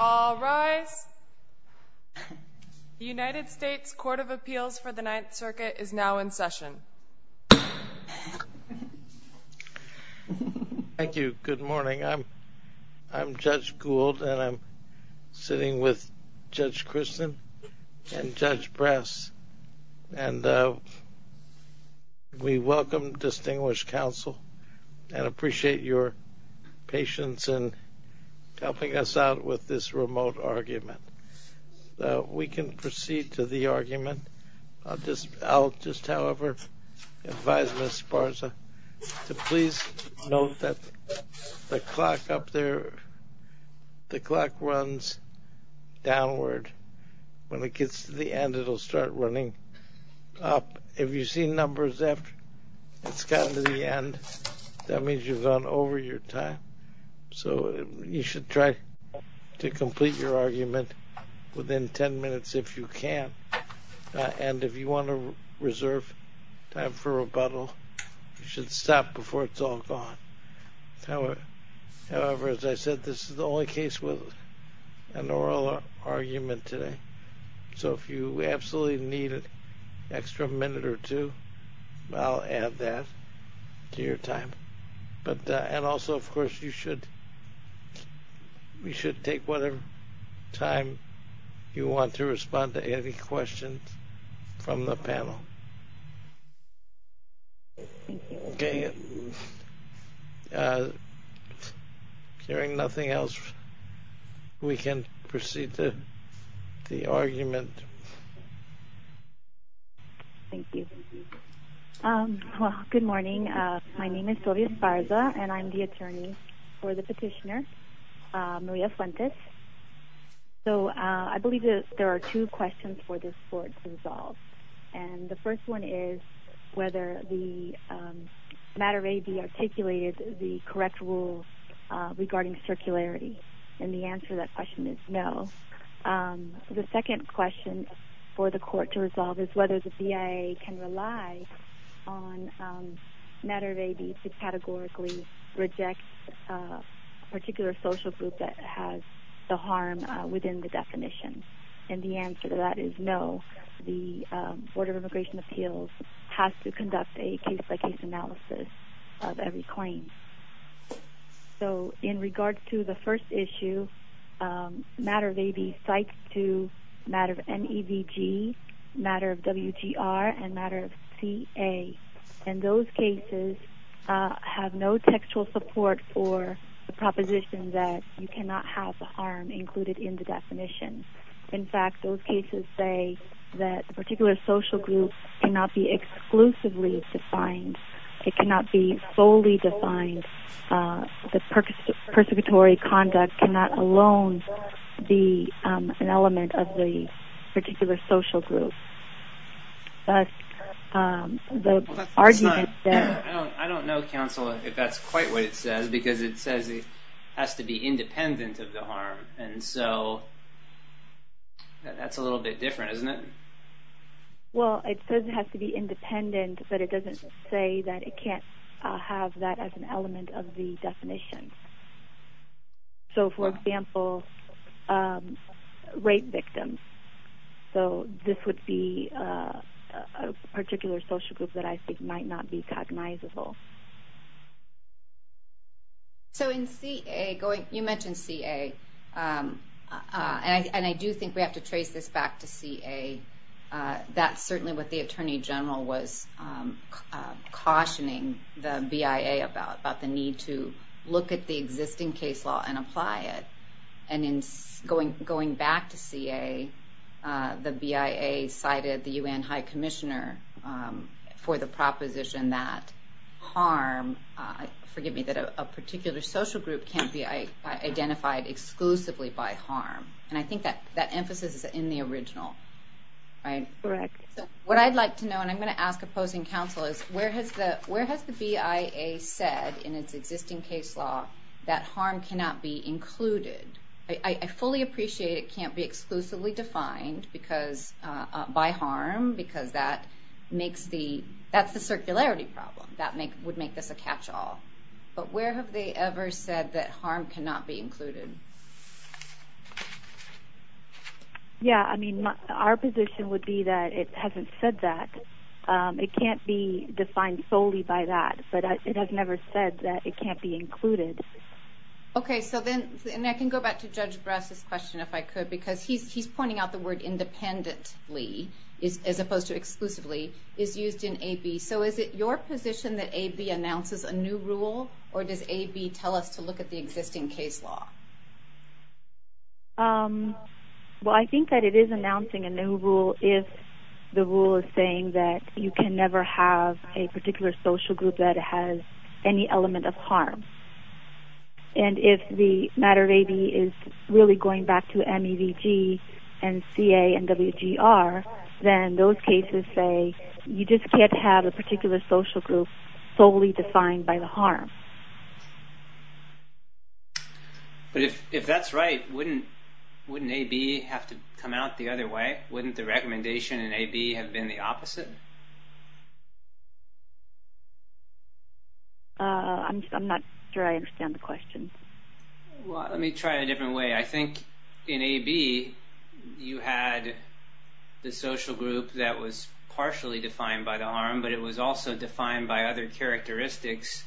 All rise. The United States Court of Appeals for the Ninth Circuit is now in session. Thank you. Good morning. I'm Judge Gould and I'm sitting with Judge Christen and Judge Brass. And we welcome distinguished counsel and appreciate your patience in helping us out with this remote argument. We can proceed to the argument. I'll just however advise Ms. Sparza to please note that the clock up there, the clock runs downward. When it gets to the end, it'll start running up. If you see numbers after it's gotten to the end, that means you've gone over your time. So you should try to complete your argument within 10 minutes if you can. And if you want to reserve time for rebuttal, you should stop before it's all gone. However, as I said, this is the only case with an oral argument today. So if you absolutely need an extra minute or two, I'll add that to your time. And also, of course, you should take whatever time you want to respond to any questions from the panel. Hearing nothing else, we can proceed to the argument. Thank you. Well, good morning. My name is Sylvia Sparza and I'm the attorney for the petitioner, Maria Fuentes. So I believe that there are two questions for this court to resolve. And the first one is whether the matter of AB articulated the correct rule regarding circularity. And the answer to that question is no. The second question for the court to resolve is whether the BIA can rely on matter of AB to categorically reject a particular social group that has the harm within the definition. And the answer to that is no. The Board of Immigration Appeals has to conduct a case-by-case analysis of every claim. So in regards to the first issue, matter of AB cites to matter of NEVG, matter of WGR, and matter of CA. And those cases have no textual support for the proposition that you cannot have the harm included in the definition. In fact, those cases say that a particular social group cannot be exclusively defined. It cannot be solely defined. The persecutory conduct cannot alone be an element of the particular social group. I don't know, counsel, if that's quite what it says, because it says it has to be independent of the harm. And so that's a little bit different, isn't it? Well, it says it has to be independent, but it doesn't say that it can't have that as an element of the definition. So, for example, rape victims. So this would be a particular social group that I think might not be cognizable. So in CA, you mentioned CA, and I do think we have to trace this back to CA. That's certainly what the Attorney General was cautioning the BIA about, about the need to look at the existing case law and apply it. And in going back to CA, the BIA cited the UN High Commissioner for the proposition that harm, forgive me, that a particular social group can't be identified exclusively by harm. And I think that emphasis is in the original, right? Correct. So what I'd like to know, and I'm going to ask opposing counsel, is where has the BIA said in its existing case law that harm cannot be included? I fully appreciate it can't be exclusively defined by harm, because that's the circularity problem that would make this a catchall. But where have they ever said that harm cannot be included? Yeah, I mean, our position would be that it hasn't said that. It can't be defined solely by that, but it has never said that it can't be included. Okay, so then, and I can go back to Judge Brass's question if I could, because he's pointing out the word independently, as opposed to exclusively, is used in AB. So is it your position that AB announces a new rule, or does AB tell us to look at the existing case law? Well, I think that it is announcing a new rule if the rule is saying that you can never have a particular social group that has any element of harm. And if the matter of AB is really going back to MEVG and CA and WGR, then those cases say you just can't have a particular social group solely defined by the harm. But if that's right, wouldn't AB have to come out the other way? Wouldn't the recommendation in AB have been the opposite? I'm not sure I understand the question. Well, let me try it a different way. I think in AB, you had the social group that was partially defined by the harm, but it was also defined by other characteristics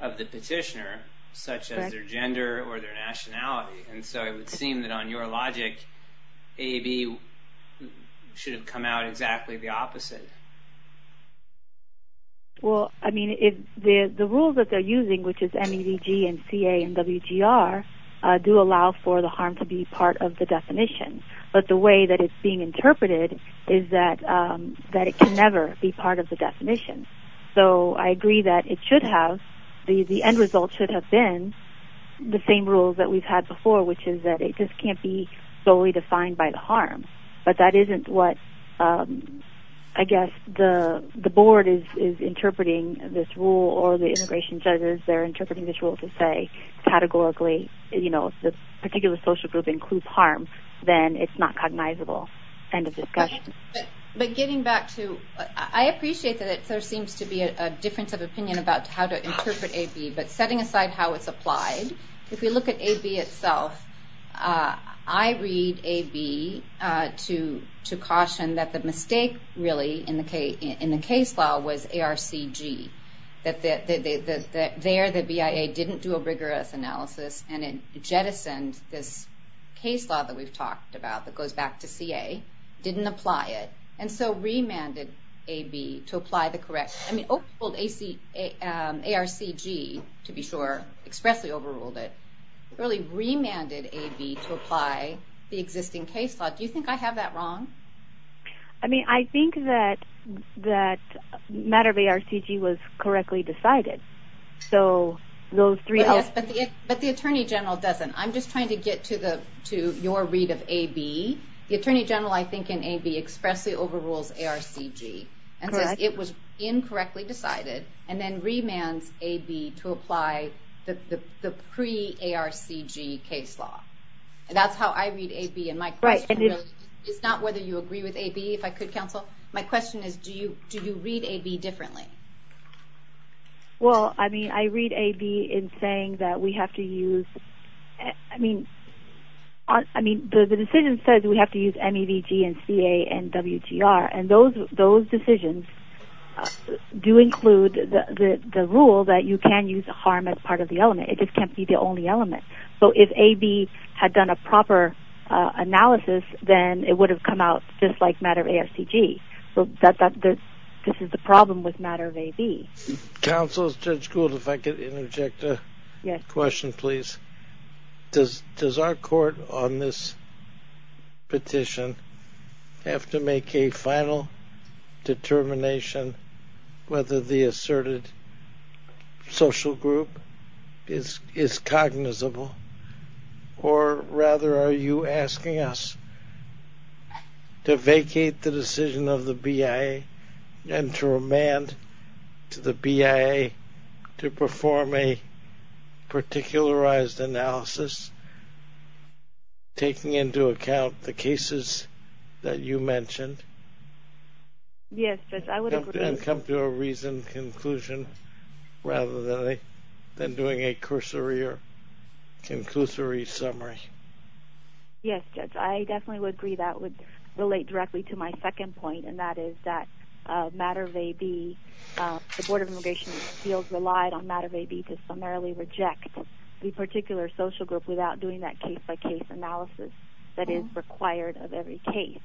of the petitioner, such as their gender or their nationality. And so it would seem that on your logic, AB should have come out exactly the opposite. Well, I mean, the rules that they're using, which is MEVG and CA and WGR, do allow for the harm to be part of the definition. But the way that it's being interpreted is that it can never be part of the definition. So I agree that the end result should have been the same rules that we've had before, which is that it just can't be solely defined by the harm. But that isn't what, I guess, the board is interpreting this rule, or the integration judges, they're interpreting this rule to say, categorically, you know, if a particular social group includes harm, then it's not cognizable. End of discussion. But getting back to, I appreciate that there seems to be a difference of opinion about how to interpret AB, but setting aside how it's applied, if we look at AB itself, I read AB to caution that the mistake, really, in the case law was ARCG. That there, the BIA didn't do a rigorous analysis, and it jettisoned this case law that we've talked about that goes back to CA, didn't apply it, and so remanded AB to apply the correct, I mean, ARCG, to be sure, expressly overruled it, really remanded AB to apply the existing case law. Do you think I have that wrong? I mean, I think that matter of ARCG was correctly decided. But the Attorney General doesn't. I'm just trying to get to your read of AB. The Attorney General, I think, in AB expressly overrules ARCG, and says it was incorrectly decided, and then remands AB to apply the pre-ARCG case law. And that's how I read AB, and my question is not whether you agree with AB, if I could, Counsel. My question is, do you read AB differently? Well, I mean, I read AB in saying that we have to use, I mean, the decision says we have to use MEVG and CA and WGR, and those decisions do include the rule that you can use harm as part of the element. It just can't be the only element. So if AB had done a proper analysis, then it would have come out just like matter of ARCG. This is the problem with matter of AB. Counsel, Judge Gould, if I could interject a question, please. Does our court on this petition have to make a final determination whether the asserted social group is cognizable, or rather, are you asking us to vacate the decision of the BIA and to remand to the BIA to perform a particularized analysis, taking into account the cases that you mentioned, Yes, Judge, I would agree. And come to a reasoned conclusion rather than doing a cursory or conclusory summary. Yes, Judge, I definitely would agree. That would relate directly to my second point, and that is that matter of AB, the Board of Immigration Appeals relied on matter of AB to summarily reject the particular social group without doing that case-by-case analysis that is required of every case.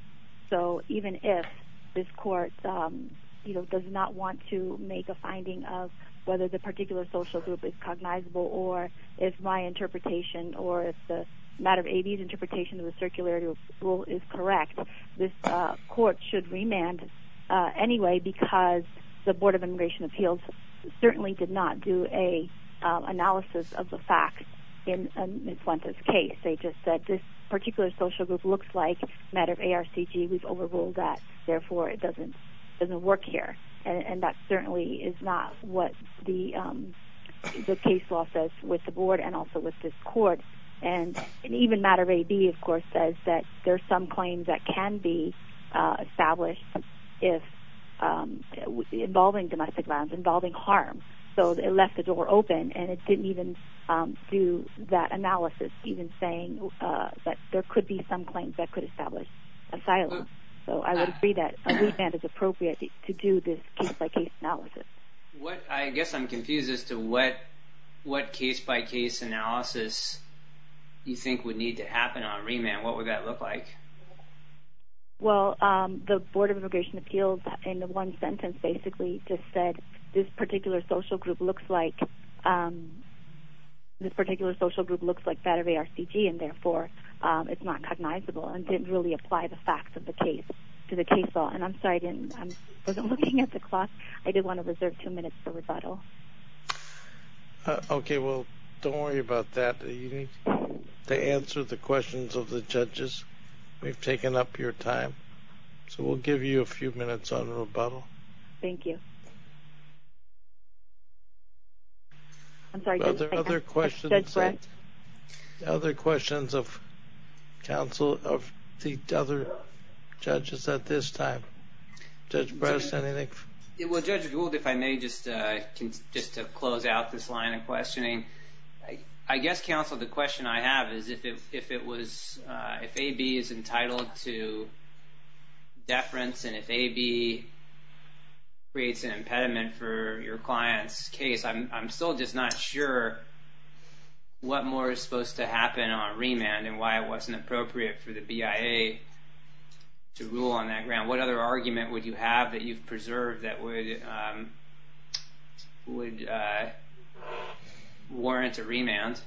So even if this court does not want to make a finding of whether the particular social group is cognizable, or if my interpretation, or if the matter of AB's interpretation of the circulatory rule is correct, this court should remand anyway because the Board of Immigration Appeals certainly did not do an analysis of the facts in Ms. Fuentes' case. They just said this particular social group looks like matter of ARCG. We've overruled that. Therefore, it doesn't work here. And that certainly is not what the case law says with the Board and also with this court. And even matter of AB, of course, says that there are some claims that can be established involving domestic violence, involving harm. So it left the door open, and it didn't even do that analysis, even saying that there could be some claims that could establish asylum. So I would agree that a remand is appropriate to do this case-by-case analysis. I guess I'm confused as to what case-by-case analysis you think would need to happen on a remand. What would that look like? Well, the Board of Immigration Appeals in the one sentence basically just said this particular social group looks like matter of ARCG, and therefore it's not cognizable and didn't really apply the facts of the case to the case law. And I'm sorry, I wasn't looking at the clock. I did want to reserve two minutes for rebuttal. Okay, well, don't worry about that. You need to answer the questions of the judges. We've taken up your time, so we'll give you a few minutes on rebuttal. Thank you. Other questions of counsel of the other judges at this time? Judge Brest, anything? Well, Judge Gould, if I may, just to close out this line of questioning, I guess, counsel, the question I have is if it was—if AB is entitled to deference and if AB creates an impediment for your client's case, I'm still just not sure what more is supposed to happen on remand and why it wasn't appropriate for the BIA to rule on that ground. What other argument would you have that you've preserved that would warrant a remand?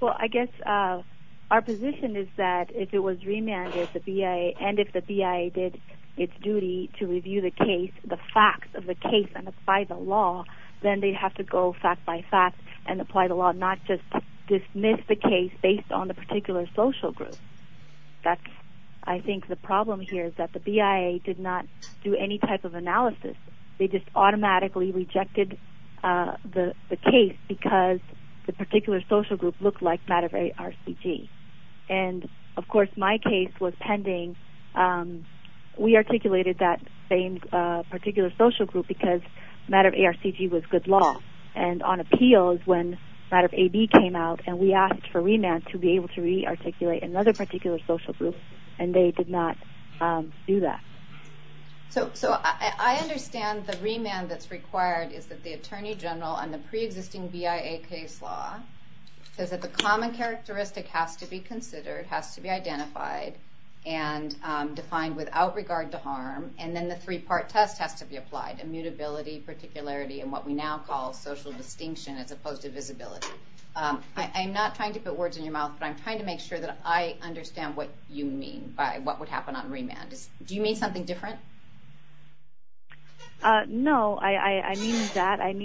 Well, I guess our position is that if it was remanded, and if the BIA did its duty to review the case, the facts of the case and apply the law, then they'd have to go fact by fact and apply the law, not just dismiss the case based on the particular social group. I think the problem here is that the BIA did not do any type of analysis. They just automatically rejected the case because the particular social group looked like matter of ARCG. And, of course, my case was pending. We articulated that particular social group because matter of ARCG was good law. And on appeal is when matter of AB came out, and we asked for remand to be able to re-articulate another particular social group, and they did not do that. So I understand the remand that's required is that the attorney general on the pre-existing BIA case law says that the common characteristic has to be considered, has to be identified, and defined without regard to harm, and then the three-part test has to be applied, immutability, particularity, and what we now call social distinction as opposed to visibility. I'm not trying to put words in your mouth, but I'm trying to make sure that I understand what you mean by what would happen on remand. Do you mean something different? No, I mean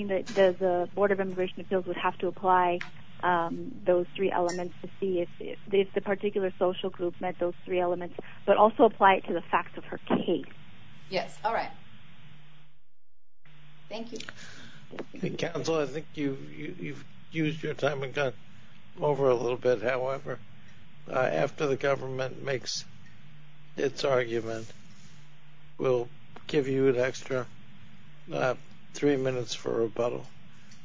that the Board of Immigration Appeals would have to apply those three elements to see if the particular social group met those three elements, but also apply it to the facts of her case. Yes, all right. Thank you. Counsel, I think you've used your time and gone over a little bit. However, after the government makes its argument, we'll give you an extra three minutes for rebuttal.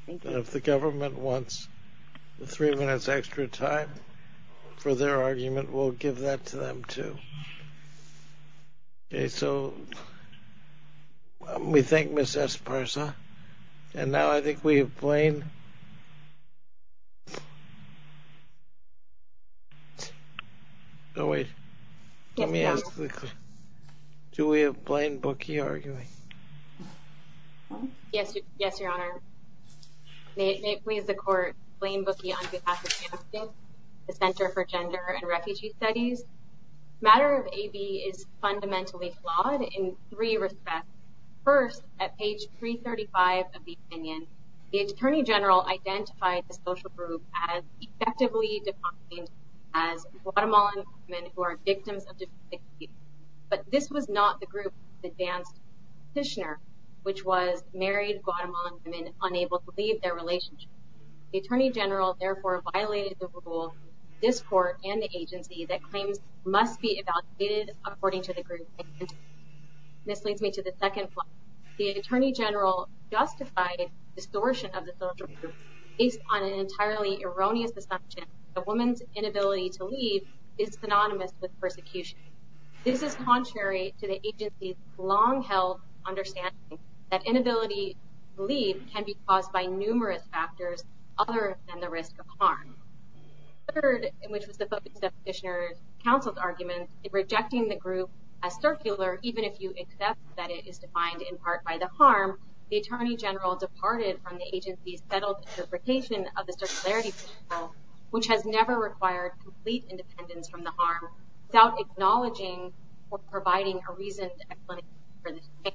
And if the government wants three minutes extra time for their argument, we'll give that to them, too. Okay, so we thank Ms. Esparza. And now I think we have Blaine. Oh, wait. Let me ask the question. Do we have Blaine Bookie arguing? Yes, Your Honor. May it please the Court, Blaine Bookie, the Center for Gender and Refugee Studies. The matter of AB is fundamentally flawed in three respects. First, at page 335 of the opinion, the Attorney General identified the social group as effectively defined as Guatemalan women who are victims of domestic abuse. But this was not the group that advanced the petitioner, which was married Guatemalan women unable to leave their relationship. The Attorney General, therefore, violated the rule. This Court and the agency that claims must be evaluated according to the group. This leads me to the second point. The Attorney General justified distortion of the social group based on an entirely erroneous assumption that a woman's inability to leave is synonymous with persecution. This is contrary to the agency's long-held understanding that inability to leave can be caused by numerous factors, other than the risk of harm. Third, which was the focus of the petitioner's counsel's argument, in rejecting the group as circular, even if you accept that it is defined in part by the harm, the Attorney General departed from the agency's settled interpretation of the circularity principle, which has never required complete independence from the harm, without acknowledging or providing a reason for this change.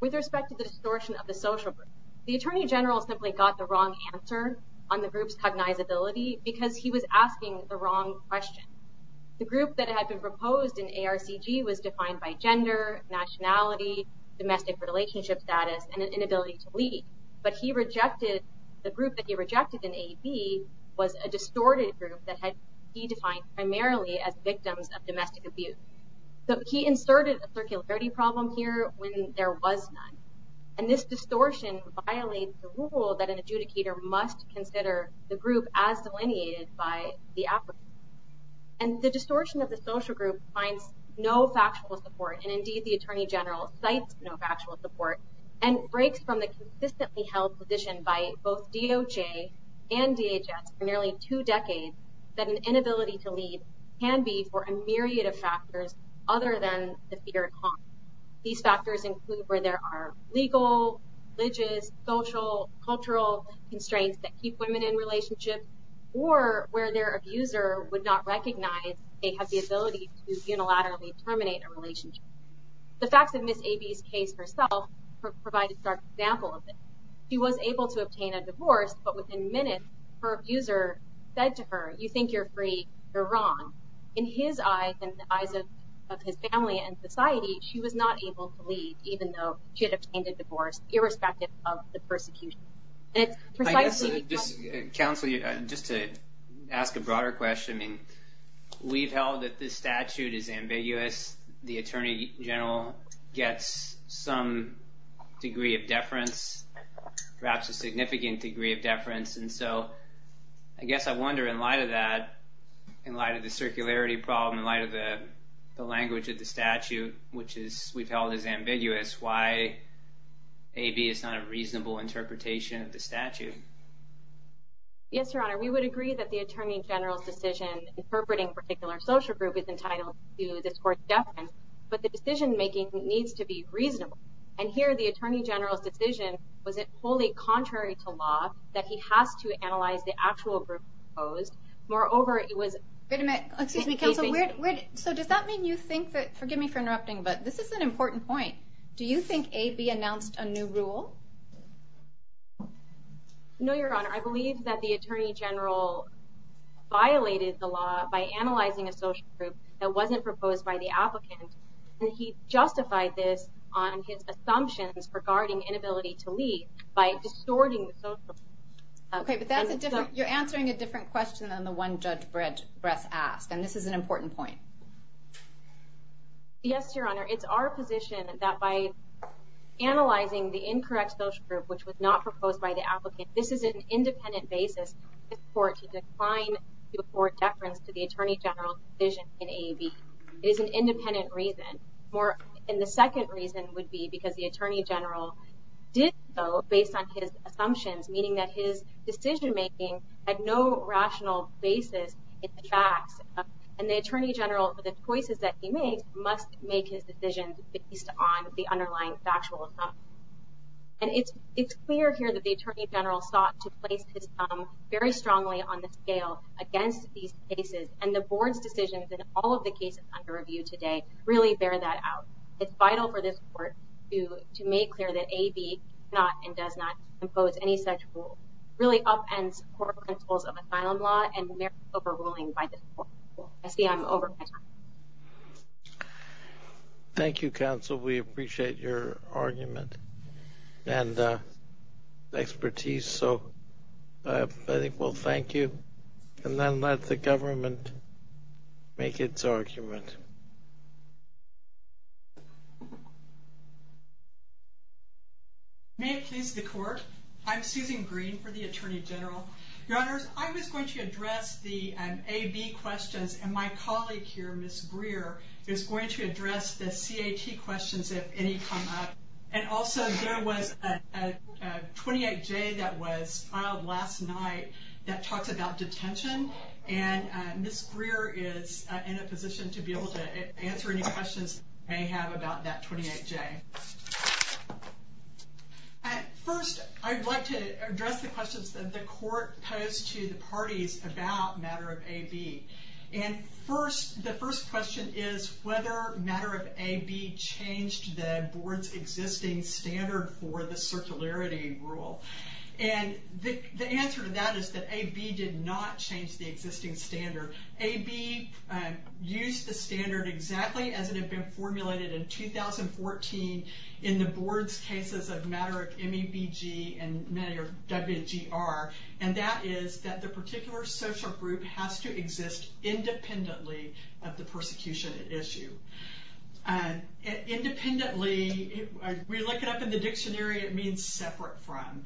With respect to the distortion of the social group, the Attorney General simply got the wrong answer on the group's cognizability because he was asking the wrong question. The group that had been proposed in ARCG was defined by gender, nationality, domestic relationship status, and an inability to leave. But the group that he rejected in AB was a distorted group that he defined primarily as victims of domestic abuse. So he inserted a circularity problem here when there was none. And this distortion violates the rule that an adjudicator must consider the group as delineated by the applicant. And the distortion of the social group finds no factual support, and indeed the Attorney General cites no factual support, and breaks from the consistently held position by both DOJ and DHS for nearly two decades that an inability to leave can be for a myriad of factors, other than the fear of harm. These factors include where there are legal, religious, social, cultural constraints that keep women in relationships, or where their abuser would not recognize they have the ability to unilaterally terminate a relationship. The facts of Ms. AB's case herself provide a stark example of this. She was able to obtain a divorce, but within minutes her abuser said to her, you think you're free, you're wrong. In his eyes, in the eyes of his family and society, she was not able to leave, even though she had obtained a divorce, irrespective of the persecution. And it's precisely because- I guess, Counsel, just to ask a broader question, I mean, we've held that this statute is ambiguous. The Attorney General gets some degree of deference, perhaps a significant degree of deference. And so I guess I wonder, in light of that, in light of the circularity problem, in light of the language of the statute, which we've held is ambiguous, why AB is not a reasonable interpretation of the statute. Yes, Your Honor, we would agree that the Attorney General's decision interpreting a particular social group is entitled to this court's deference, but the decision-making needs to be reasonable. And here, the Attorney General's decision was wholly contrary to law, that he has to analyze the actual group proposed. Moreover, it was- Wait a minute. Excuse me, Counsel. So does that mean you think that- forgive me for interrupting, but this is an important point. Do you think AB announced a new rule? No, Your Honor. I believe that the Attorney General violated the law by analyzing a social group that wasn't proposed by the applicant, and he justified this on his assumptions regarding inability to leave by distorting the social group. Okay, but you're answering a different question than the one Judge Bress asked, and this is an important point. Yes, Your Honor. It's our position that by analyzing the incorrect social group, which was not proposed by the applicant, this is an independent basis for the court deference to the Attorney General's decision in AB. It is an independent reason. And the second reason would be because the Attorney General did so based on his assumptions, meaning that his decision-making had no rational basis in the facts, and the Attorney General, the choices that he made, must make his decisions based on the underlying factual assumption. And it's clear here that the Attorney General sought to place his thumb very strongly on the scale against these cases, and the Board's decisions in all of the cases under review today really bear that out. It's vital for this Court to make clear that AB does not and does not impose any such rule, really upends core principles of asylum law and merits overruling by this Court. I see I'm over my time. Thank you, Counsel. We appreciate your argument and expertise, so I think we'll thank you and then let the government make its argument. May it please the Court. I'm Susan Green for the Attorney General. Your Honors, I was going to address the AB questions, and my colleague here, Ms. Greer, is going to address the CAT questions, if any come up. And also, there was a 28J that was filed last night that talks about detention, and Ms. Greer is in a position to be able to answer any questions you may have about that 28J. First, I'd like to address the questions that the Court posed to the parties about the matter of AB. The first question is whether matter of AB changed the Board's existing standard for the circularity rule. The answer to that is that AB did not change the existing standard. AB used the standard exactly as it had been formulated in 2014 in the Board's cases of matter of MEBG and WGR, and that is that the particular social group has to exist independently of the persecution at issue. Independently, we look it up in the dictionary, it means separate from.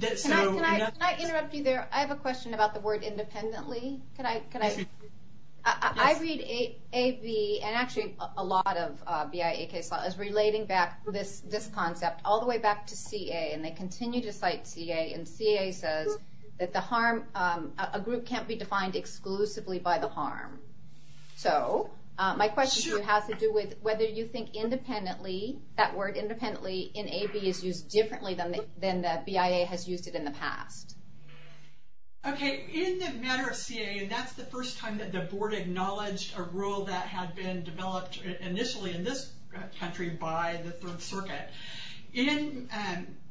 Can I interrupt you there? I have a question about the word independently. I read AB, and actually a lot of BIA case law, as relating back this concept all the way back to CA, and they continue to cite CA, and CA says that a group can't be defined exclusively by the harm. So, my question to you has to do with whether you think independently, that word independently in AB is used differently than the BIA has used it in the past. Okay, in the matter of CA, and that's the first time that the Board acknowledged a rule that had been developed initially in this country by the Third Circuit. In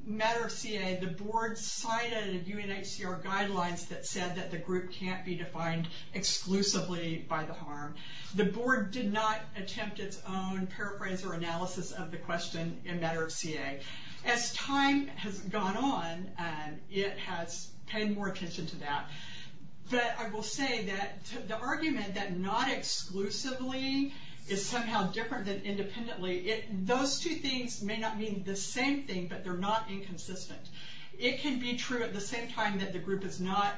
matter of CA, the Board cited UNHCR guidelines that said that the group can't be defined exclusively by the harm. The Board did not attempt its own paraphrase or analysis of the question in matter of CA. As time has gone on, it has paid more attention to that, but I will say that the argument that not exclusively is somehow different than independently, those two things may not mean the same thing, but they're not inconsistent. It can be true at the same time that the group is not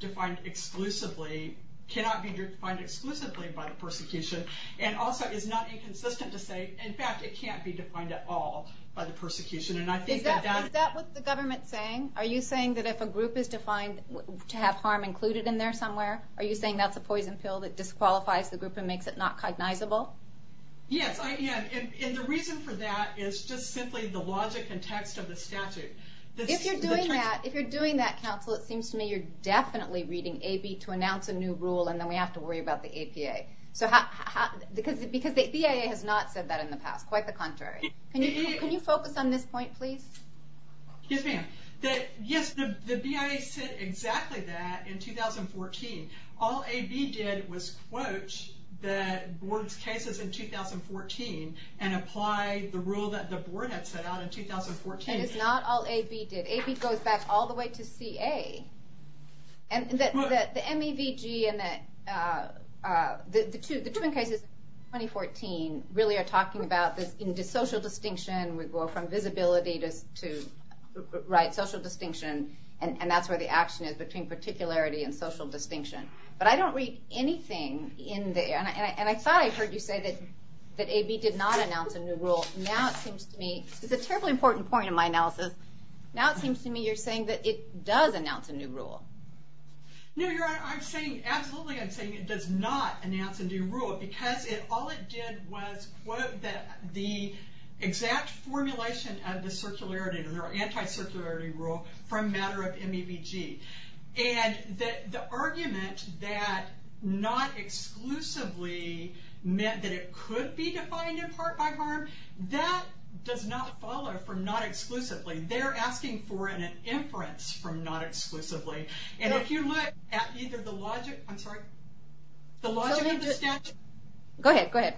defined exclusively, cannot be defined exclusively by the persecution, and also is not inconsistent to say, in fact, it can't be defined at all by the persecution. Is that what the government is saying? Are you saying that if a group is defined to have harm included in there somewhere, are you saying that's a poison pill that disqualifies the group and makes it not cognizable? Yes, I am. And the reason for that is just simply the logic and text of the statute. If you're doing that, if you're doing that, Counsel, it seems to me you're definitely reading AB to announce a new rule, and then we have to worry about the APA. Because the BIA has not said that in the past, quite the contrary. Can you focus on this point, please? Yes, ma'am. Yes, the BIA said exactly that in 2014. All AB did was quote the board's cases in 2014 and apply the rule that the board had set out in 2014. And it's not all AB did. AB goes back all the way to CA. And the MEVG and the twin cases in 2014 really are talking about this social distinction. We go from visibility to social distinction, and that's where the action is between particularity and social distinction. But I don't read anything in there. And I thought I heard you say that AB did not announce a new rule. Now it seems to me, it's a terribly important point in my analysis, now it seems to me you're saying that it does announce a new rule. No, Your Honor, I'm saying, absolutely I'm saying it does not announce a new rule because all it did was quote the exact formulation of the circularity, the anti-circularity rule from matter of MEVG. And the argument that not exclusively meant that it could be defined in part by harm, that does not follow from not exclusively. They're asking for an inference from not exclusively. And if you look at either the logic of the statute... Go ahead, go ahead.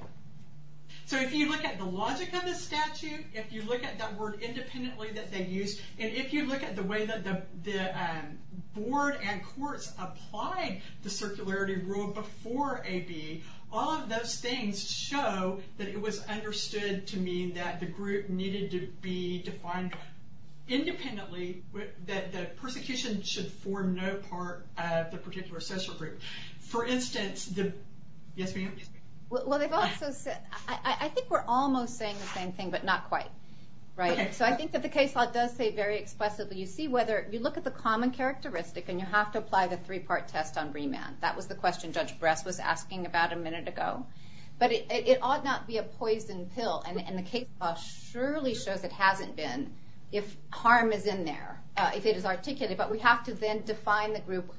So if you look at the logic of the statute, if you look at that word independently that they used, and if you look at the way that the board and courts applied the circularity rule before AB, all of those things show that it was understood to mean that the group needed to be defined independently, that the persecution should form no part of the particular social group. For instance, the... Yes, ma'am? Well, they've also said... I think we're almost saying the same thing, but not quite. So I think that the case law does say very expressively, you see whether you look at the common characteristic and you have to apply the three-part test on remand. That was the question Judge Bress was asking about a minute ago. But it ought not be a poison pill, and the case law surely shows it hasn't been if harm is in there, if it is articulated, but we have to then define the group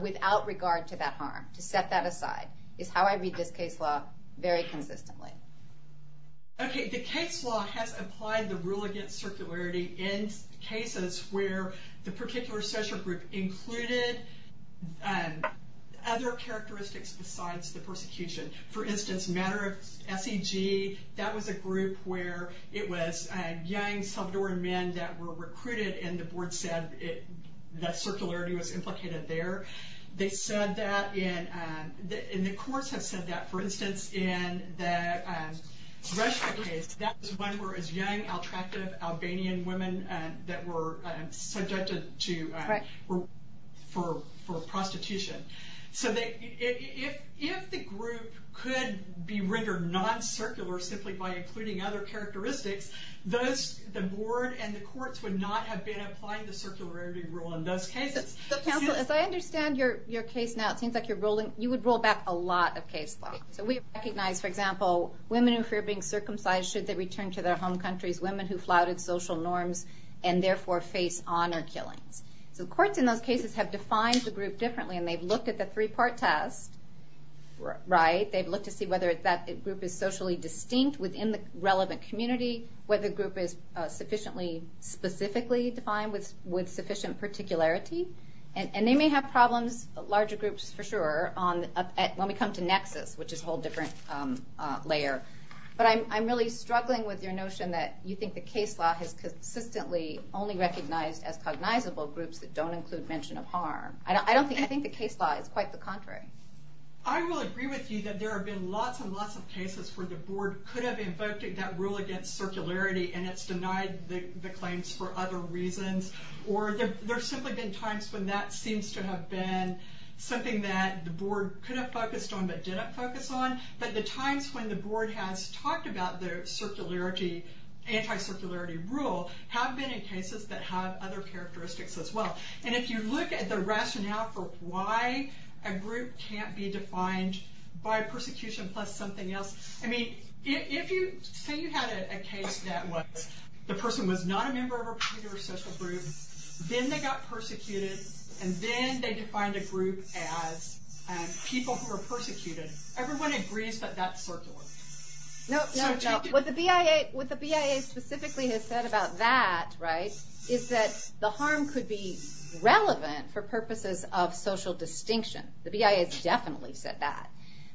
without regard to that harm, to set that aside, is how I read this case law very consistently. Okay, the case law has applied the rule against circularity in cases where the particular social group included other characteristics besides the persecution. For instance, matter of SEG, that was a group where it was young Salvadoran men that were recruited, and the board said that circularity was implicated there. They said that in... And the courts have said that, for instance, in the Russia case, that was one where it was young, attractive Albanian women that were subjected to... for prostitution. So if the group could be rendered non-circular simply by including other characteristics, the board and the courts would not have been applying the circularity rule in those cases. Counsel, as I understand your case now, it seems like you would roll back a lot of case law. So we recognize, for example, women who fear being circumcised should they return to their home countries, women who flouted social norms and therefore face honor killings. So the courts in those cases have defined the group differently, and they've looked at the three-part test, right? They've looked to see whether that group is socially distinct within the relevant community, whether the group is sufficiently specifically defined with sufficient particularity. And they may have problems, larger groups for sure, when we come to nexus, which is a whole different layer. But I'm really struggling with your notion that you think the case law has consistently only recognized as cognizable groups that don't include mention of harm. I don't think... I think the case law is quite the contrary. I will agree with you that there have been lots and lots of cases where the board could have invoked that rule against circularity and it's denied the claims for other reasons. Or there have simply been times when that seems to have been something that the board could have focused on but didn't focus on. But the times when the board has talked about the circularity... anti-circularity rule have been in cases that have other characteristics as well. And if you look at the rationale for why a group can't be defined by persecution plus something else... I mean, say you had a case that the person was not a member of a particular social group, then they got persecuted, and then they defined a group as people who were persecuted. Everyone agrees that that's circular. No, no, no. What the BIA specifically has said about that, right, is that the harm could be relevant for purposes of social distinction. The BIA has definitely said that.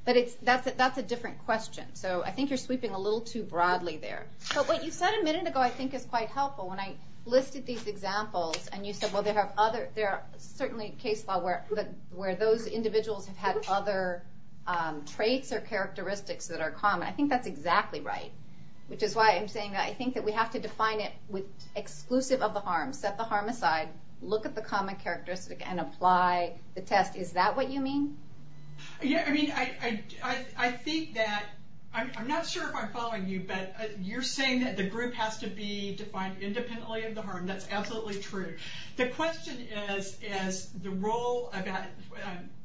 But that's a different question. So I think you're sweeping a little too broadly there. But what you said a minute ago I think is quite helpful. When I listed these examples and you said, well, there are certainly cases where those individuals have had other traits or characteristics that are common. I think that's exactly right. Which is why I'm saying I think that we have to define it with exclusive of the harm, set the harm aside, look at the common characteristic, and apply the test. Is that what you mean? Yeah, I mean, I think that... I'm not sure if I'm following you, but you're saying that the group has to be defined independently of the harm. That's absolutely true. The question is, is the role of that...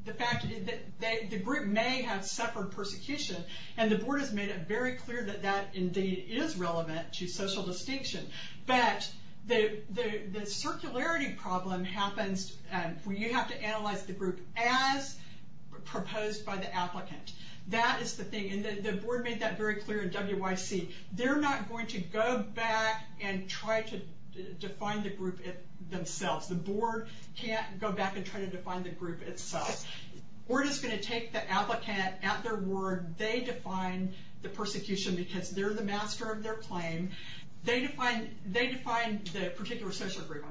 The fact is that the group may have suffered persecution, and the board has made it very clear that that indeed is relevant to social distinction. But the circularity problem happens when you have to analyze the group as proposed by the applicant. That is the thing, and the board made that very clear in WYC. They're not going to go back and try to define the group themselves. The board can't go back and try to define the group itself. We're just going to take the applicant at their word. They define the persecution because they're the master of their claim. They define the particular social group.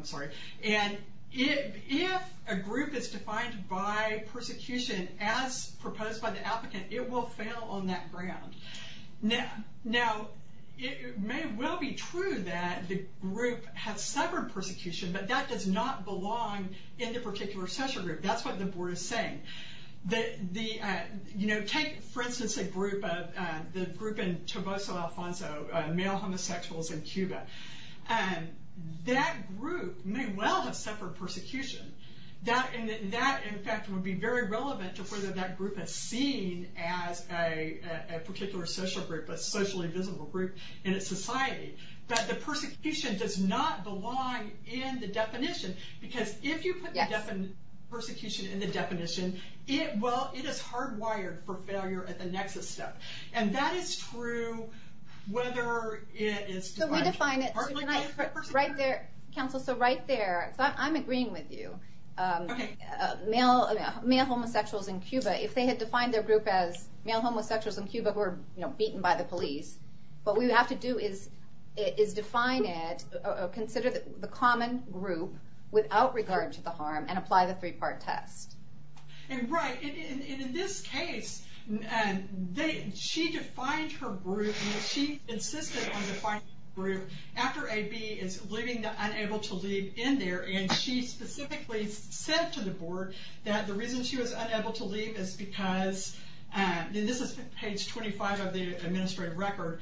If a group is defined by persecution as proposed by the applicant, it will fail on that ground. Now, it may well be true that the group has suffered persecution, but that does not belong in the particular social group. That's what the board is saying. Take, for instance, the group in Toboso Alfonso, male homosexuals in Cuba. That group may well have suffered persecution. That, in fact, would be very relevant to whether that group is seen as a particular social group, a socially visible group in a society. But the persecution does not belong in the definition because if you put the definition, persecution in the definition, it is hardwired for failure at the next step. And that is true whether it is defined. So we define it... Right there, counsel, so right there. I'm agreeing with you. Male homosexuals in Cuba, if they had defined their group as male homosexuals in Cuba who were beaten by the police, what we would have to do is define it, consider the common group without regard to the harm, and apply the three-part test. Right, and in this case, she defined her group, and she insisted on defining her group after A.B. is leaving the unable to leave in there, and she specifically said to the board that the reason she was unable to leave is because, and this is page 25 of the administrative record,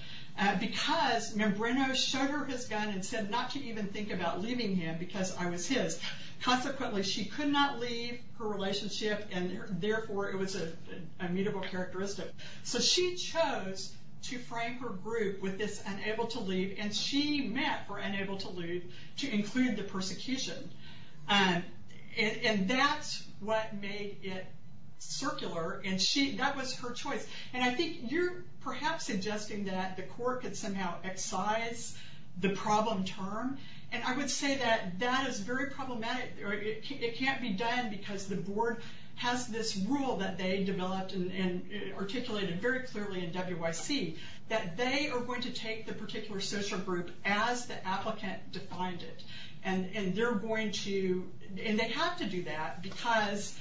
because Membrano showed her his gun and said not to even think about leaving him because I was his. Consequently, she could not leave her relationship, and therefore it was an immutable characteristic. So she chose to frame her group with this unable to leave, and she met for unable to leave to include the persecution. And that's what made it circular, and that was her choice. And I think you're perhaps suggesting that the court could somehow excise the problem term, and I would say that that is very problematic. It can't be done because the board has this rule that they developed and articulated very clearly in W.Y.C. that they are going to take the particular social group as the applicant defined it, and they're going to, and they have to do that because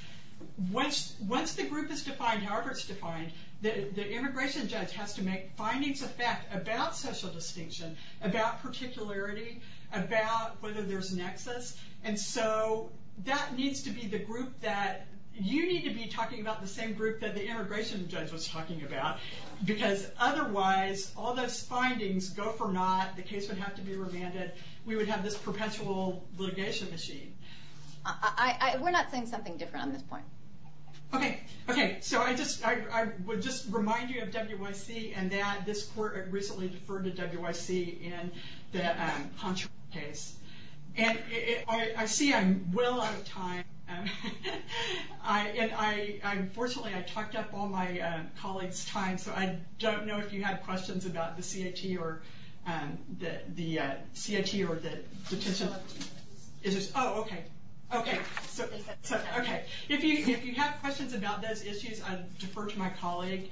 once the group is defined however it's defined, the immigration judge has to make findings of fact about social distinction, about particularity, about whether there's nexus, and so that needs to be the group that, you need to be talking about the same group that the immigration judge was talking about because otherwise all those findings go for naught, the case would have to be remanded, we would have this perpetual litigation machine. We're not saying something different on this point. Okay, okay, so I just, I would just remind you of W.Y.C. and that this court had recently deferred to W.Y.C. in the Honcho case. And I see I'm well out of time, and unfortunately I talked up all my colleagues' time so I don't know if you have questions about the CIT or the petition. Oh, okay. Okay, so, okay. If you have questions about those issues, I defer to my colleague.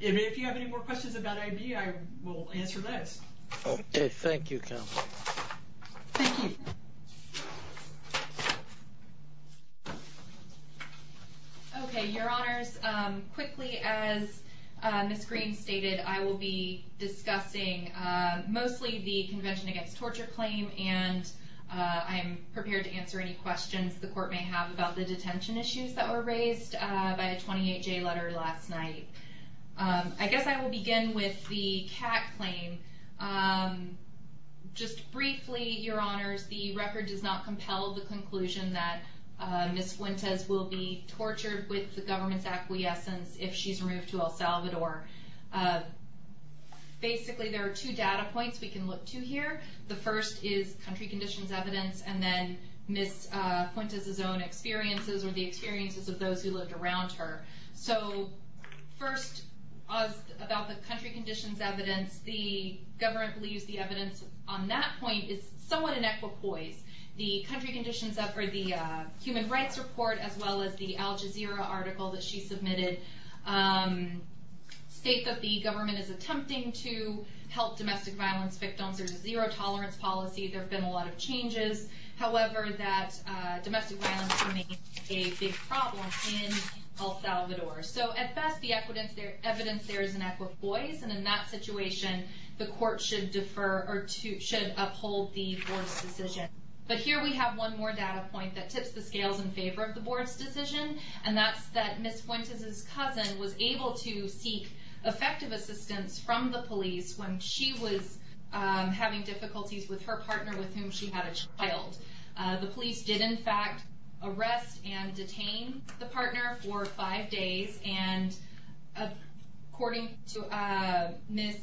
If you have any more questions about I.B., I will answer those. Okay, thank you, counsel. Thank you. Okay, Your Honors, quickly as Ms. Green stated, I will be discussing mostly the Convention Against Torture claim and I'm prepared to answer any questions the court may have about the detention issues that were raised by the 28-J letter last night. I guess I will begin with the CAT claim. Just briefly, Your Honors, the record does not compel the conclusion that Ms. Fuentes will be tortured with the government's acquiescence if she's removed to El Salvador. Basically, there are two data points we can look to here. The first is country conditions evidence and then Ms. Fuentes' own experiences or the experiences of those who lived around her. So first, about the country conditions evidence, the government believes the evidence on that point is somewhat inequipoise. The country conditions or the human rights report as well as the Al Jazeera article that she submitted state that the government is attempting to help domestic violence victims. There's a zero tolerance policy. There have been a lot of changes. However, that domestic violence remains a big problem in El Salvador. So at best, the evidence there is inequipoise and in that situation, the court should defer or should uphold the board's decision. But here we have one more data point that tips the scales in favor of the board's decision and that's that Ms. Fuentes' cousin was able to seek effective assistance from the police when she was having difficulties with her partner with whom she had a child. The police did in fact arrest and detain the partner for five days and according to Ms.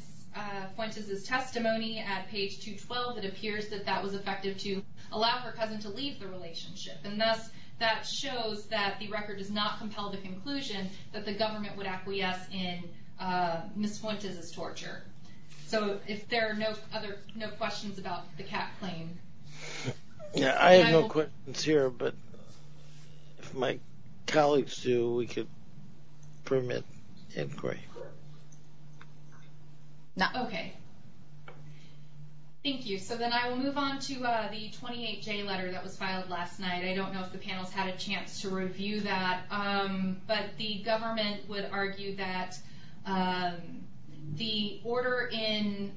Fuentes' testimony at page 212, it appears that that was effective to allow her cousin to leave the relationship and thus that shows that the record does not compel the conclusion that the government would acquiesce in Ms. Fuentes' torture. So if there are no other questions about the CAT claim. Yeah, I have no questions here, but if my colleagues do, we could permit inquiry. Okay. Thank you. So then I will move on to the 28J letter that was filed last night. I don't know if the panel's had a chance to review that, but the government would argue that the order in,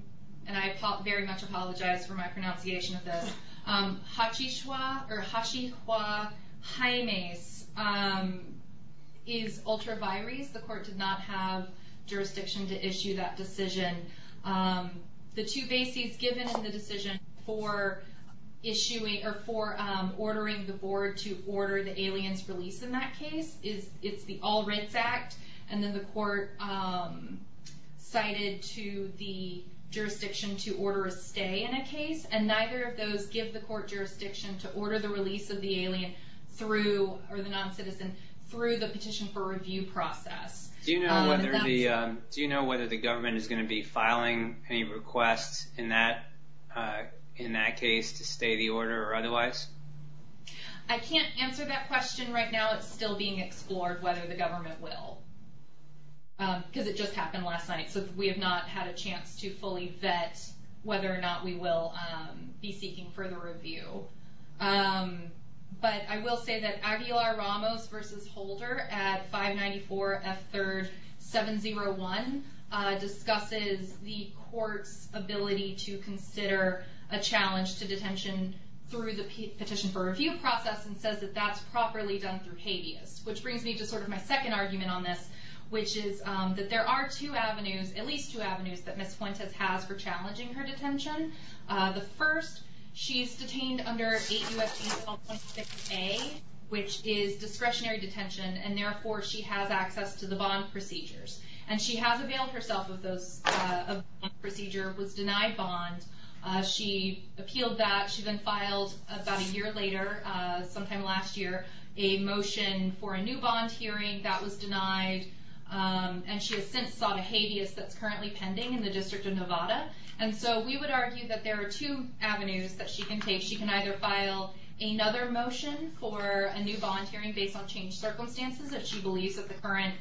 and I very much apologize for my pronunciation of this, Hachishwa, or Hachihwa Haimes is ultra vires. The court did not have jurisdiction to issue that decision. The two bases given in the decision for issuing, or for ordering the board to order the alien's release in that case is it's the All Rights Act, and then the court cited to the jurisdiction to order a stay in a case, and neither of those give the court jurisdiction to order the release of the alien through, or the non-citizen, through the petition for review process. Do you know whether the government is going to be filing any requests in that case to stay the order or otherwise? I can't answer that question right now. It's still being explored whether the government will, because it just happened last night, so we have not had a chance to fully vet whether or not we will be seeking further review. But I will say that Aguilar-Ramos v. Holder at 594 F. 3rd 701 discusses the court's ability to consider a challenge to detention through the petition for review process and says that that's properly done through habeas, which brings me to sort of my second argument on this, which is that there are two avenues, at least two avenues, that Ms. Fuentes has for challenging her detention. The first, she's detained under 8 U.S. Penal Code 26A, which is discretionary detention, and therefore she has access to the bond procedures. And she has availed herself of those procedures, was denied bond. She appealed that. She then filed about a year later, sometime last year, a motion for a new bond hearing. That was denied. And she has since sought a habeas that's currently pending in the District of Nevada. And so we would argue that there are two avenues that she can take. She can either file another motion for a new bond hearing based on changed circumstances, if she believes that the current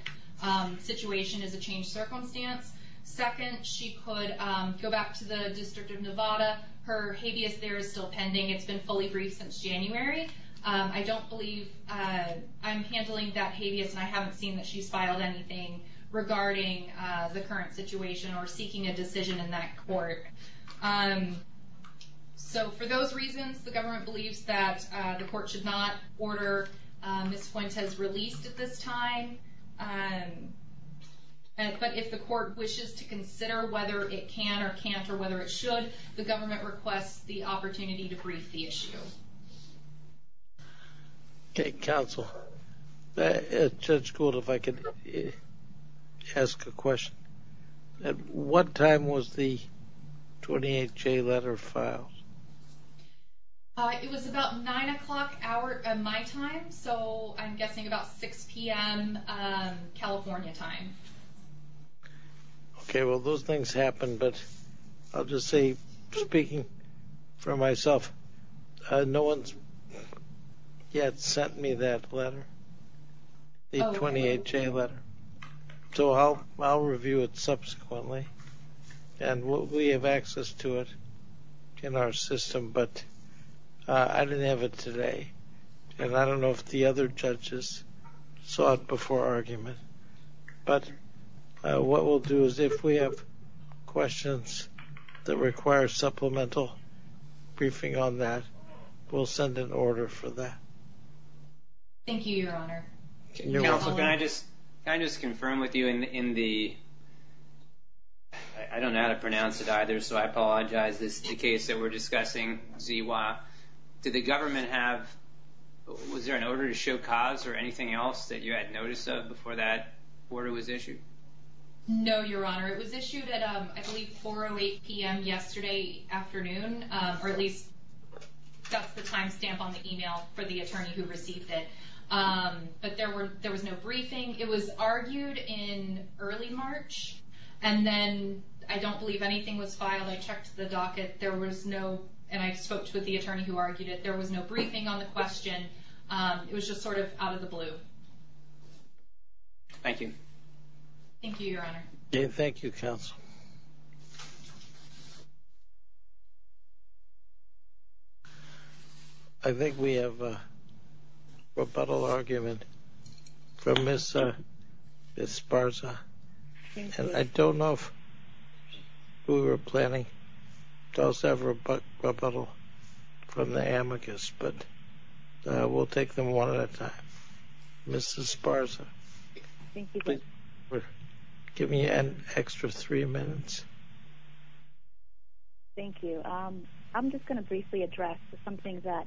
situation is a changed circumstance. Second, she could go back to the District of Nevada. Her habeas there is still pending. It's been fully briefed since January. I don't believe I'm handling that habeas, and I haven't seen that she's filed anything regarding the current situation or seeking a decision in that court. So for those reasons, the government believes that the court should not order. Ms. Fuentes has released at this time. But if the court wishes to consider whether it can or can't or whether it should, the government requests the opportunity to brief the issue. OK. Counsel, Judge Gould, if I could ask a question. At what time was the 28-J letter filed? It was about 9 o'clock my time. So I'm guessing about 6 PM California time. OK. Well, those things happen. But I'll just say, speaking for myself, no one's yet sent me that letter, the 28-J letter. So I'll review it subsequently. And we have access to it in our system. But I didn't have it today. And I don't know if the other judges saw it before argument. But what we'll do is if we have questions that require supplemental briefing on that, we'll send an order for that. Thank you, Your Honor. Counsel, can I just confirm with you in the, I don't know how to pronounce it either, so I apologize. This is the case that we're discussing, ZIWA. Did the government have, was there an order to show cause or anything else that you had notice of before that order was issued? No, Your Honor. It was issued at, I believe, 4 or 8 PM yesterday afternoon, or at least that's the time stamp on the email for the attorney who received it. But there was no briefing. It was argued in early March. And then I don't believe anything was filed. I checked the docket. There was no, and I spoke with the attorney who argued it, there was no briefing on the question. It was just sort of out of the blue. Thank you. Thank you, Your Honor. Thank you, Counsel. I think we have a rebuttal argument from Ms. Sparza. And I don't know if we were planning to also have rebuttal from the amicus, but we'll take them one at a time. Ms. Sparza. Thank you, Judge. Give me an extra three minutes. Thank you. I'm just going to briefly address something that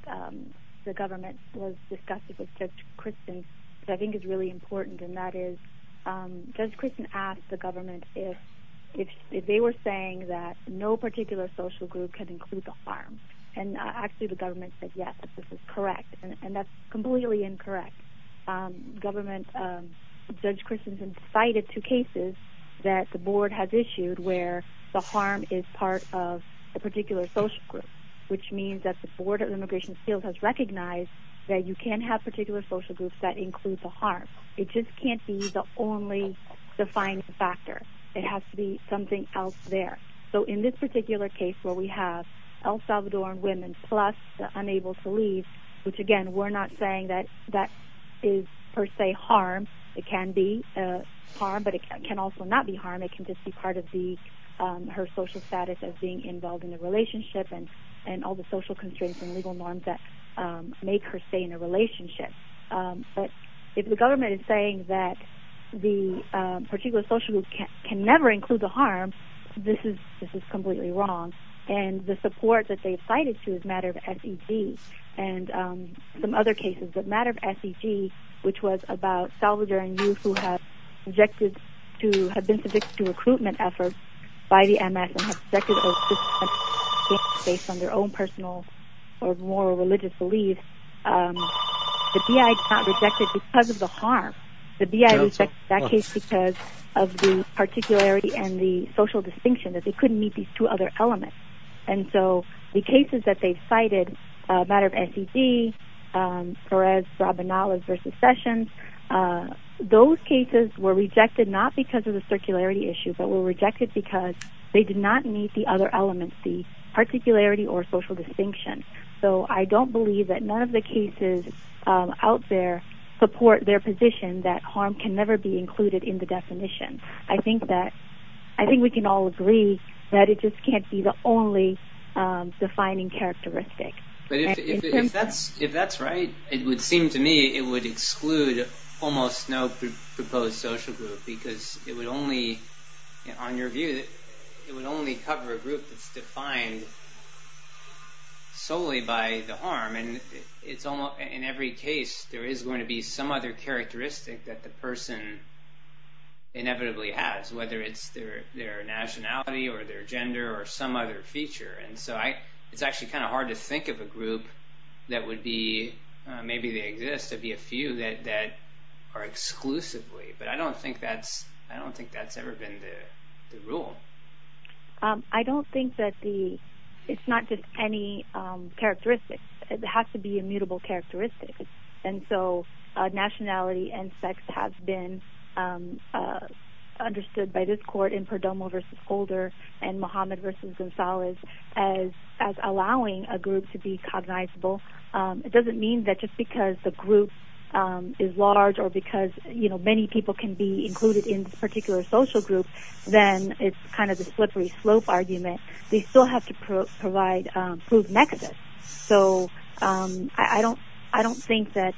the government was discussing with Judge Christin that I think is really important, and that is Judge Christin asked the government if they were saying that no particular social group can include the harm. And actually the government said yes, this is correct. And that's completely incorrect. Judge Christin cited two cases that the board has issued where the harm is part of a particular social group, which means that the Board of Immigration Appeals has recognized that you can have particular social groups that include the harm. It just can't be the only defining factor. It has to be something else there. So in this particular case where we have El Salvadoran women plus the unable to leave, which, again, we're not saying that that is per se harm. It can be harm, but it can also not be harm. It can just be part of her social status as being involved in the relationship and all the social constraints and legal norms that make her stay in a relationship. But if the government is saying that the particular social group can never include the harm, this is completely wrong. And the support that they've cited, too, is a matter of SEG and some other cases, but a matter of SEG, which was about Salvadoran youth who have been subjected to recruitment efforts by the MS and have subjected to a system based on their own personal or moral religious belief. The BI is not rejected because of the harm. The BI rejected that case because of the particularity and the social distinction that they couldn't meet these two other elements. And so the cases that they've cited, a matter of SEG, Perez, Rabanales versus Sessions, those cases were rejected not because of the other elements, the particularity or social distinction. So I don't believe that none of the cases out there support their position that harm can never be included in the definition. I think we can all agree that it just can't be the only defining characteristic. But if that's right, it would seem to me it would exclude almost no proposed social group because it would only, on your view, it would only cover a group that's defined solely by the harm. And in every case, there is going to be some other characteristic that the person inevitably has, whether it's their nationality or their gender or some other feature. And so it's actually kind of hard to think of a group that would be, maybe they exist, to be a few that are exclusively. But I don't think that's ever been the rule. I don't think that it's not just any characteristic. It has to be immutable characteristic. And so nationality and sex have been understood by this court in Perdomo versus Older and Mohammed versus Gonzalez as allowing a group to be cognizable. It doesn't mean that just because the group is large or because many people can be included in this particular social group, then it's kind of a slippery slope argument. They still have to provide proof nexus. So I don't think that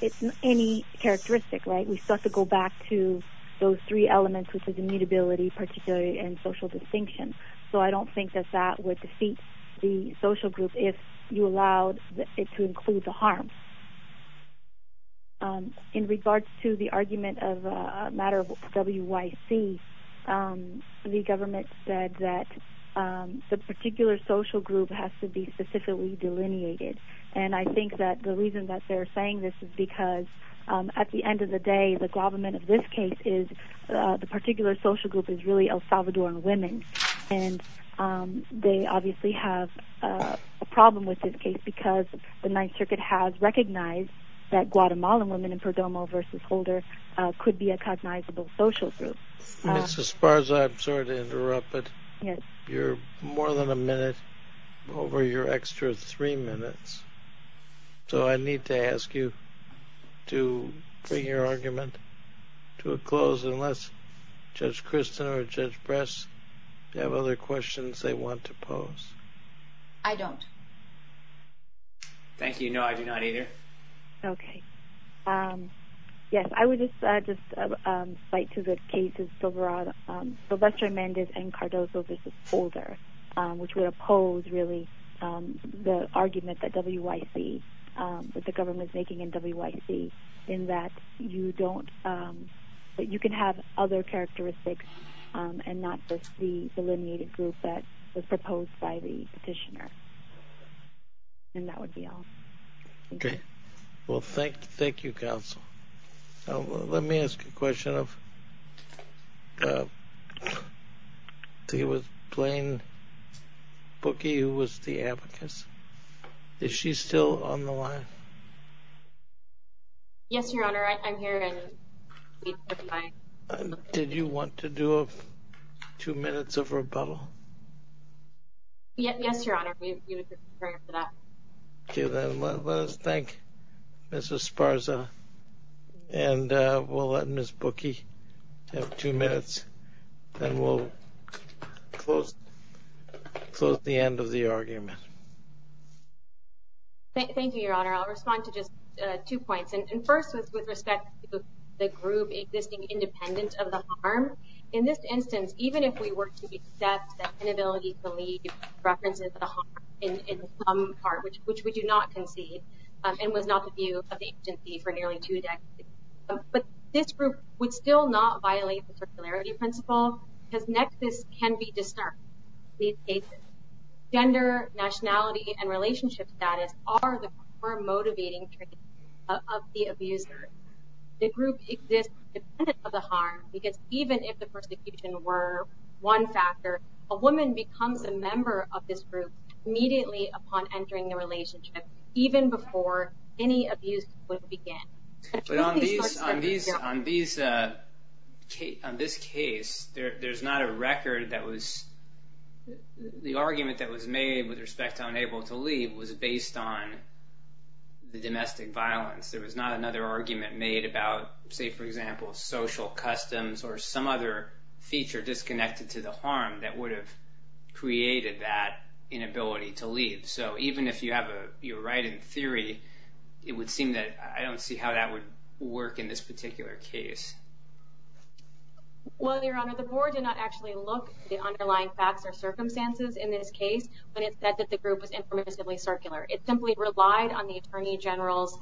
it's any characteristic, right? We still have to go back to those three elements, which is immutability, particularity, and social distinction. So I don't think that that would defeat the social group if you allowed it to include the harm. In regards to the argument of a matter of WYC, the government said that the particular social group has to be specifically delineated. And I think that the reason that they're saying this is because at the end of the day, the government of this case is the particular social group is really El Salvadoran women. And they obviously have a problem with this case because the Ninth Circuit recognized that Guatemalan women in Perdomo v. Holder could be a cognizable social group. Ms. Esparza, I'm sorry to interrupt, but you're more than a minute over your extra three minutes. So I need to ask you to bring your argument to a close unless Judge Kristen or Judge Bress have other questions they want to pose. I don't. Thank you. No, I do not either. Okay. Yes. I would just cite to the case of Silvestre Mendez and Cardozo v. Holder, which would oppose really the argument that the government is making in WYC in that you can have other characteristics and not just the delineated group that was proposed by the petitioner. And that would be all. Okay. Well, thank you, Counsel. Let me ask a question of the plain bookie who was the abacus. Is she still on the line? Yes, Your Honor. I'm here. Did you want to do two minutes of rebuttal? Yes, Your Honor. We would prefer that. Okay. Then let us thank Mrs. Sparza, and we'll let Ms. Bookie have two minutes, and we'll close the end of the argument. Thank you, Your Honor. I'll respond to just two points. And first, with respect to the group existing independent of the harm, in this instance, even if we were to accept that inability to leave references of the harm in some part, which we do not concede, and was not the view of the agency for nearly two decades, but this group would still not violate the circularity principle because nexus can be disturbed in these cases. Gender, nationality, and relationship status are the core motivating traits of the abuser. The group exists independent of the harm because even if the persecution were one factor, a woman becomes a member of this group immediately upon entering the relationship, even before any abuse would begin. But on this case, there's not a record that was the argument that was made with respect to unable to leave was based on the domestic violence. There was not another argument made about, say, for example, social customs or some other feature disconnected to the harm that would have created that inability to leave. So even if you're right in theory, it would seem that I don't see how that would work in this particular case. Well, Your Honor, the board did not actually look at the underlying facts or circumstances in this case when it said that the group was impermissibly circular. It simply relied on the Attorney General's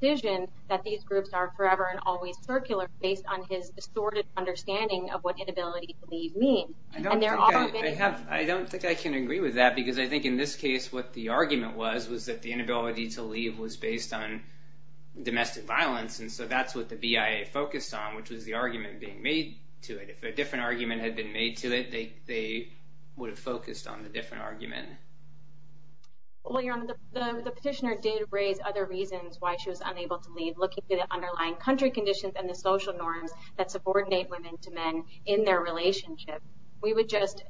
decision that these groups are forever and always circular based on his distorted understanding of what inability to leave means. I don't think I can agree with that because I think in this case what the argument was was that the inability to leave was based on domestic violence, and so that's what the BIA focused on, which was the argument being made to it. If a different argument had been made to it, they would have focused on the different argument. Well, Your Honor, the petitioner did raise other reasons why she was unable to leave, looking at the underlying country conditions and the social norms that subordinate women to men in their relationship. We would just,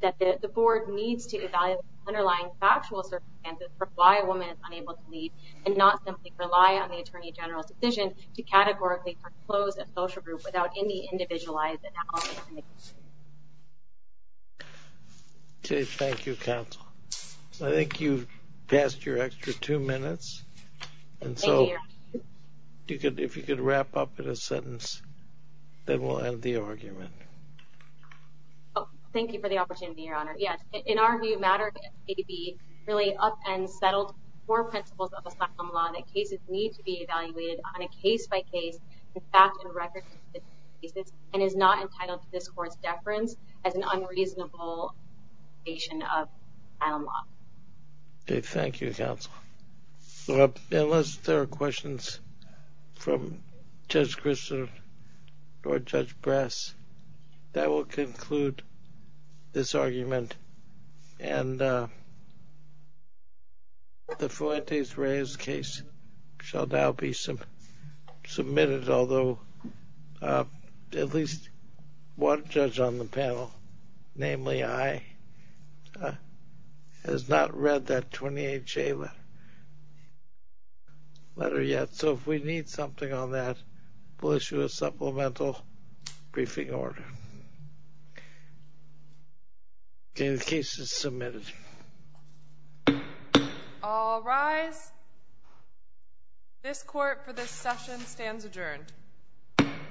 that the board needs to evaluate the underlying factual circumstances for why a woman is unable to leave and not simply rely on the Attorney General's decision to categorically close a social group without any individualized analysis. Okay. Thank you, Counsel. I think you've passed your extra two minutes, and so if you could wrap up in a sentence, then we'll end the argument. Thank you for the opportunity, Your Honor. Yes. In our view, MATTER may be really up and settled for principles of asylum law that cases need to be evaluated on a case-by-case, in fact, in record cases and is not entitled to this Court's deference as an unreasonable violation of asylum law. Okay. Thank you, Counsel. Unless there are questions from Judge Kristol or Judge Brass, that will conclude this argument, and the Fuentes-Reyes case shall now be submitted, although at least one judge on the panel, namely I, has not read that 28-J letter yet, so if we need something on that, we'll issue a supplemental briefing order. The case is submitted. All rise. This Court, for this session, stands adjourned.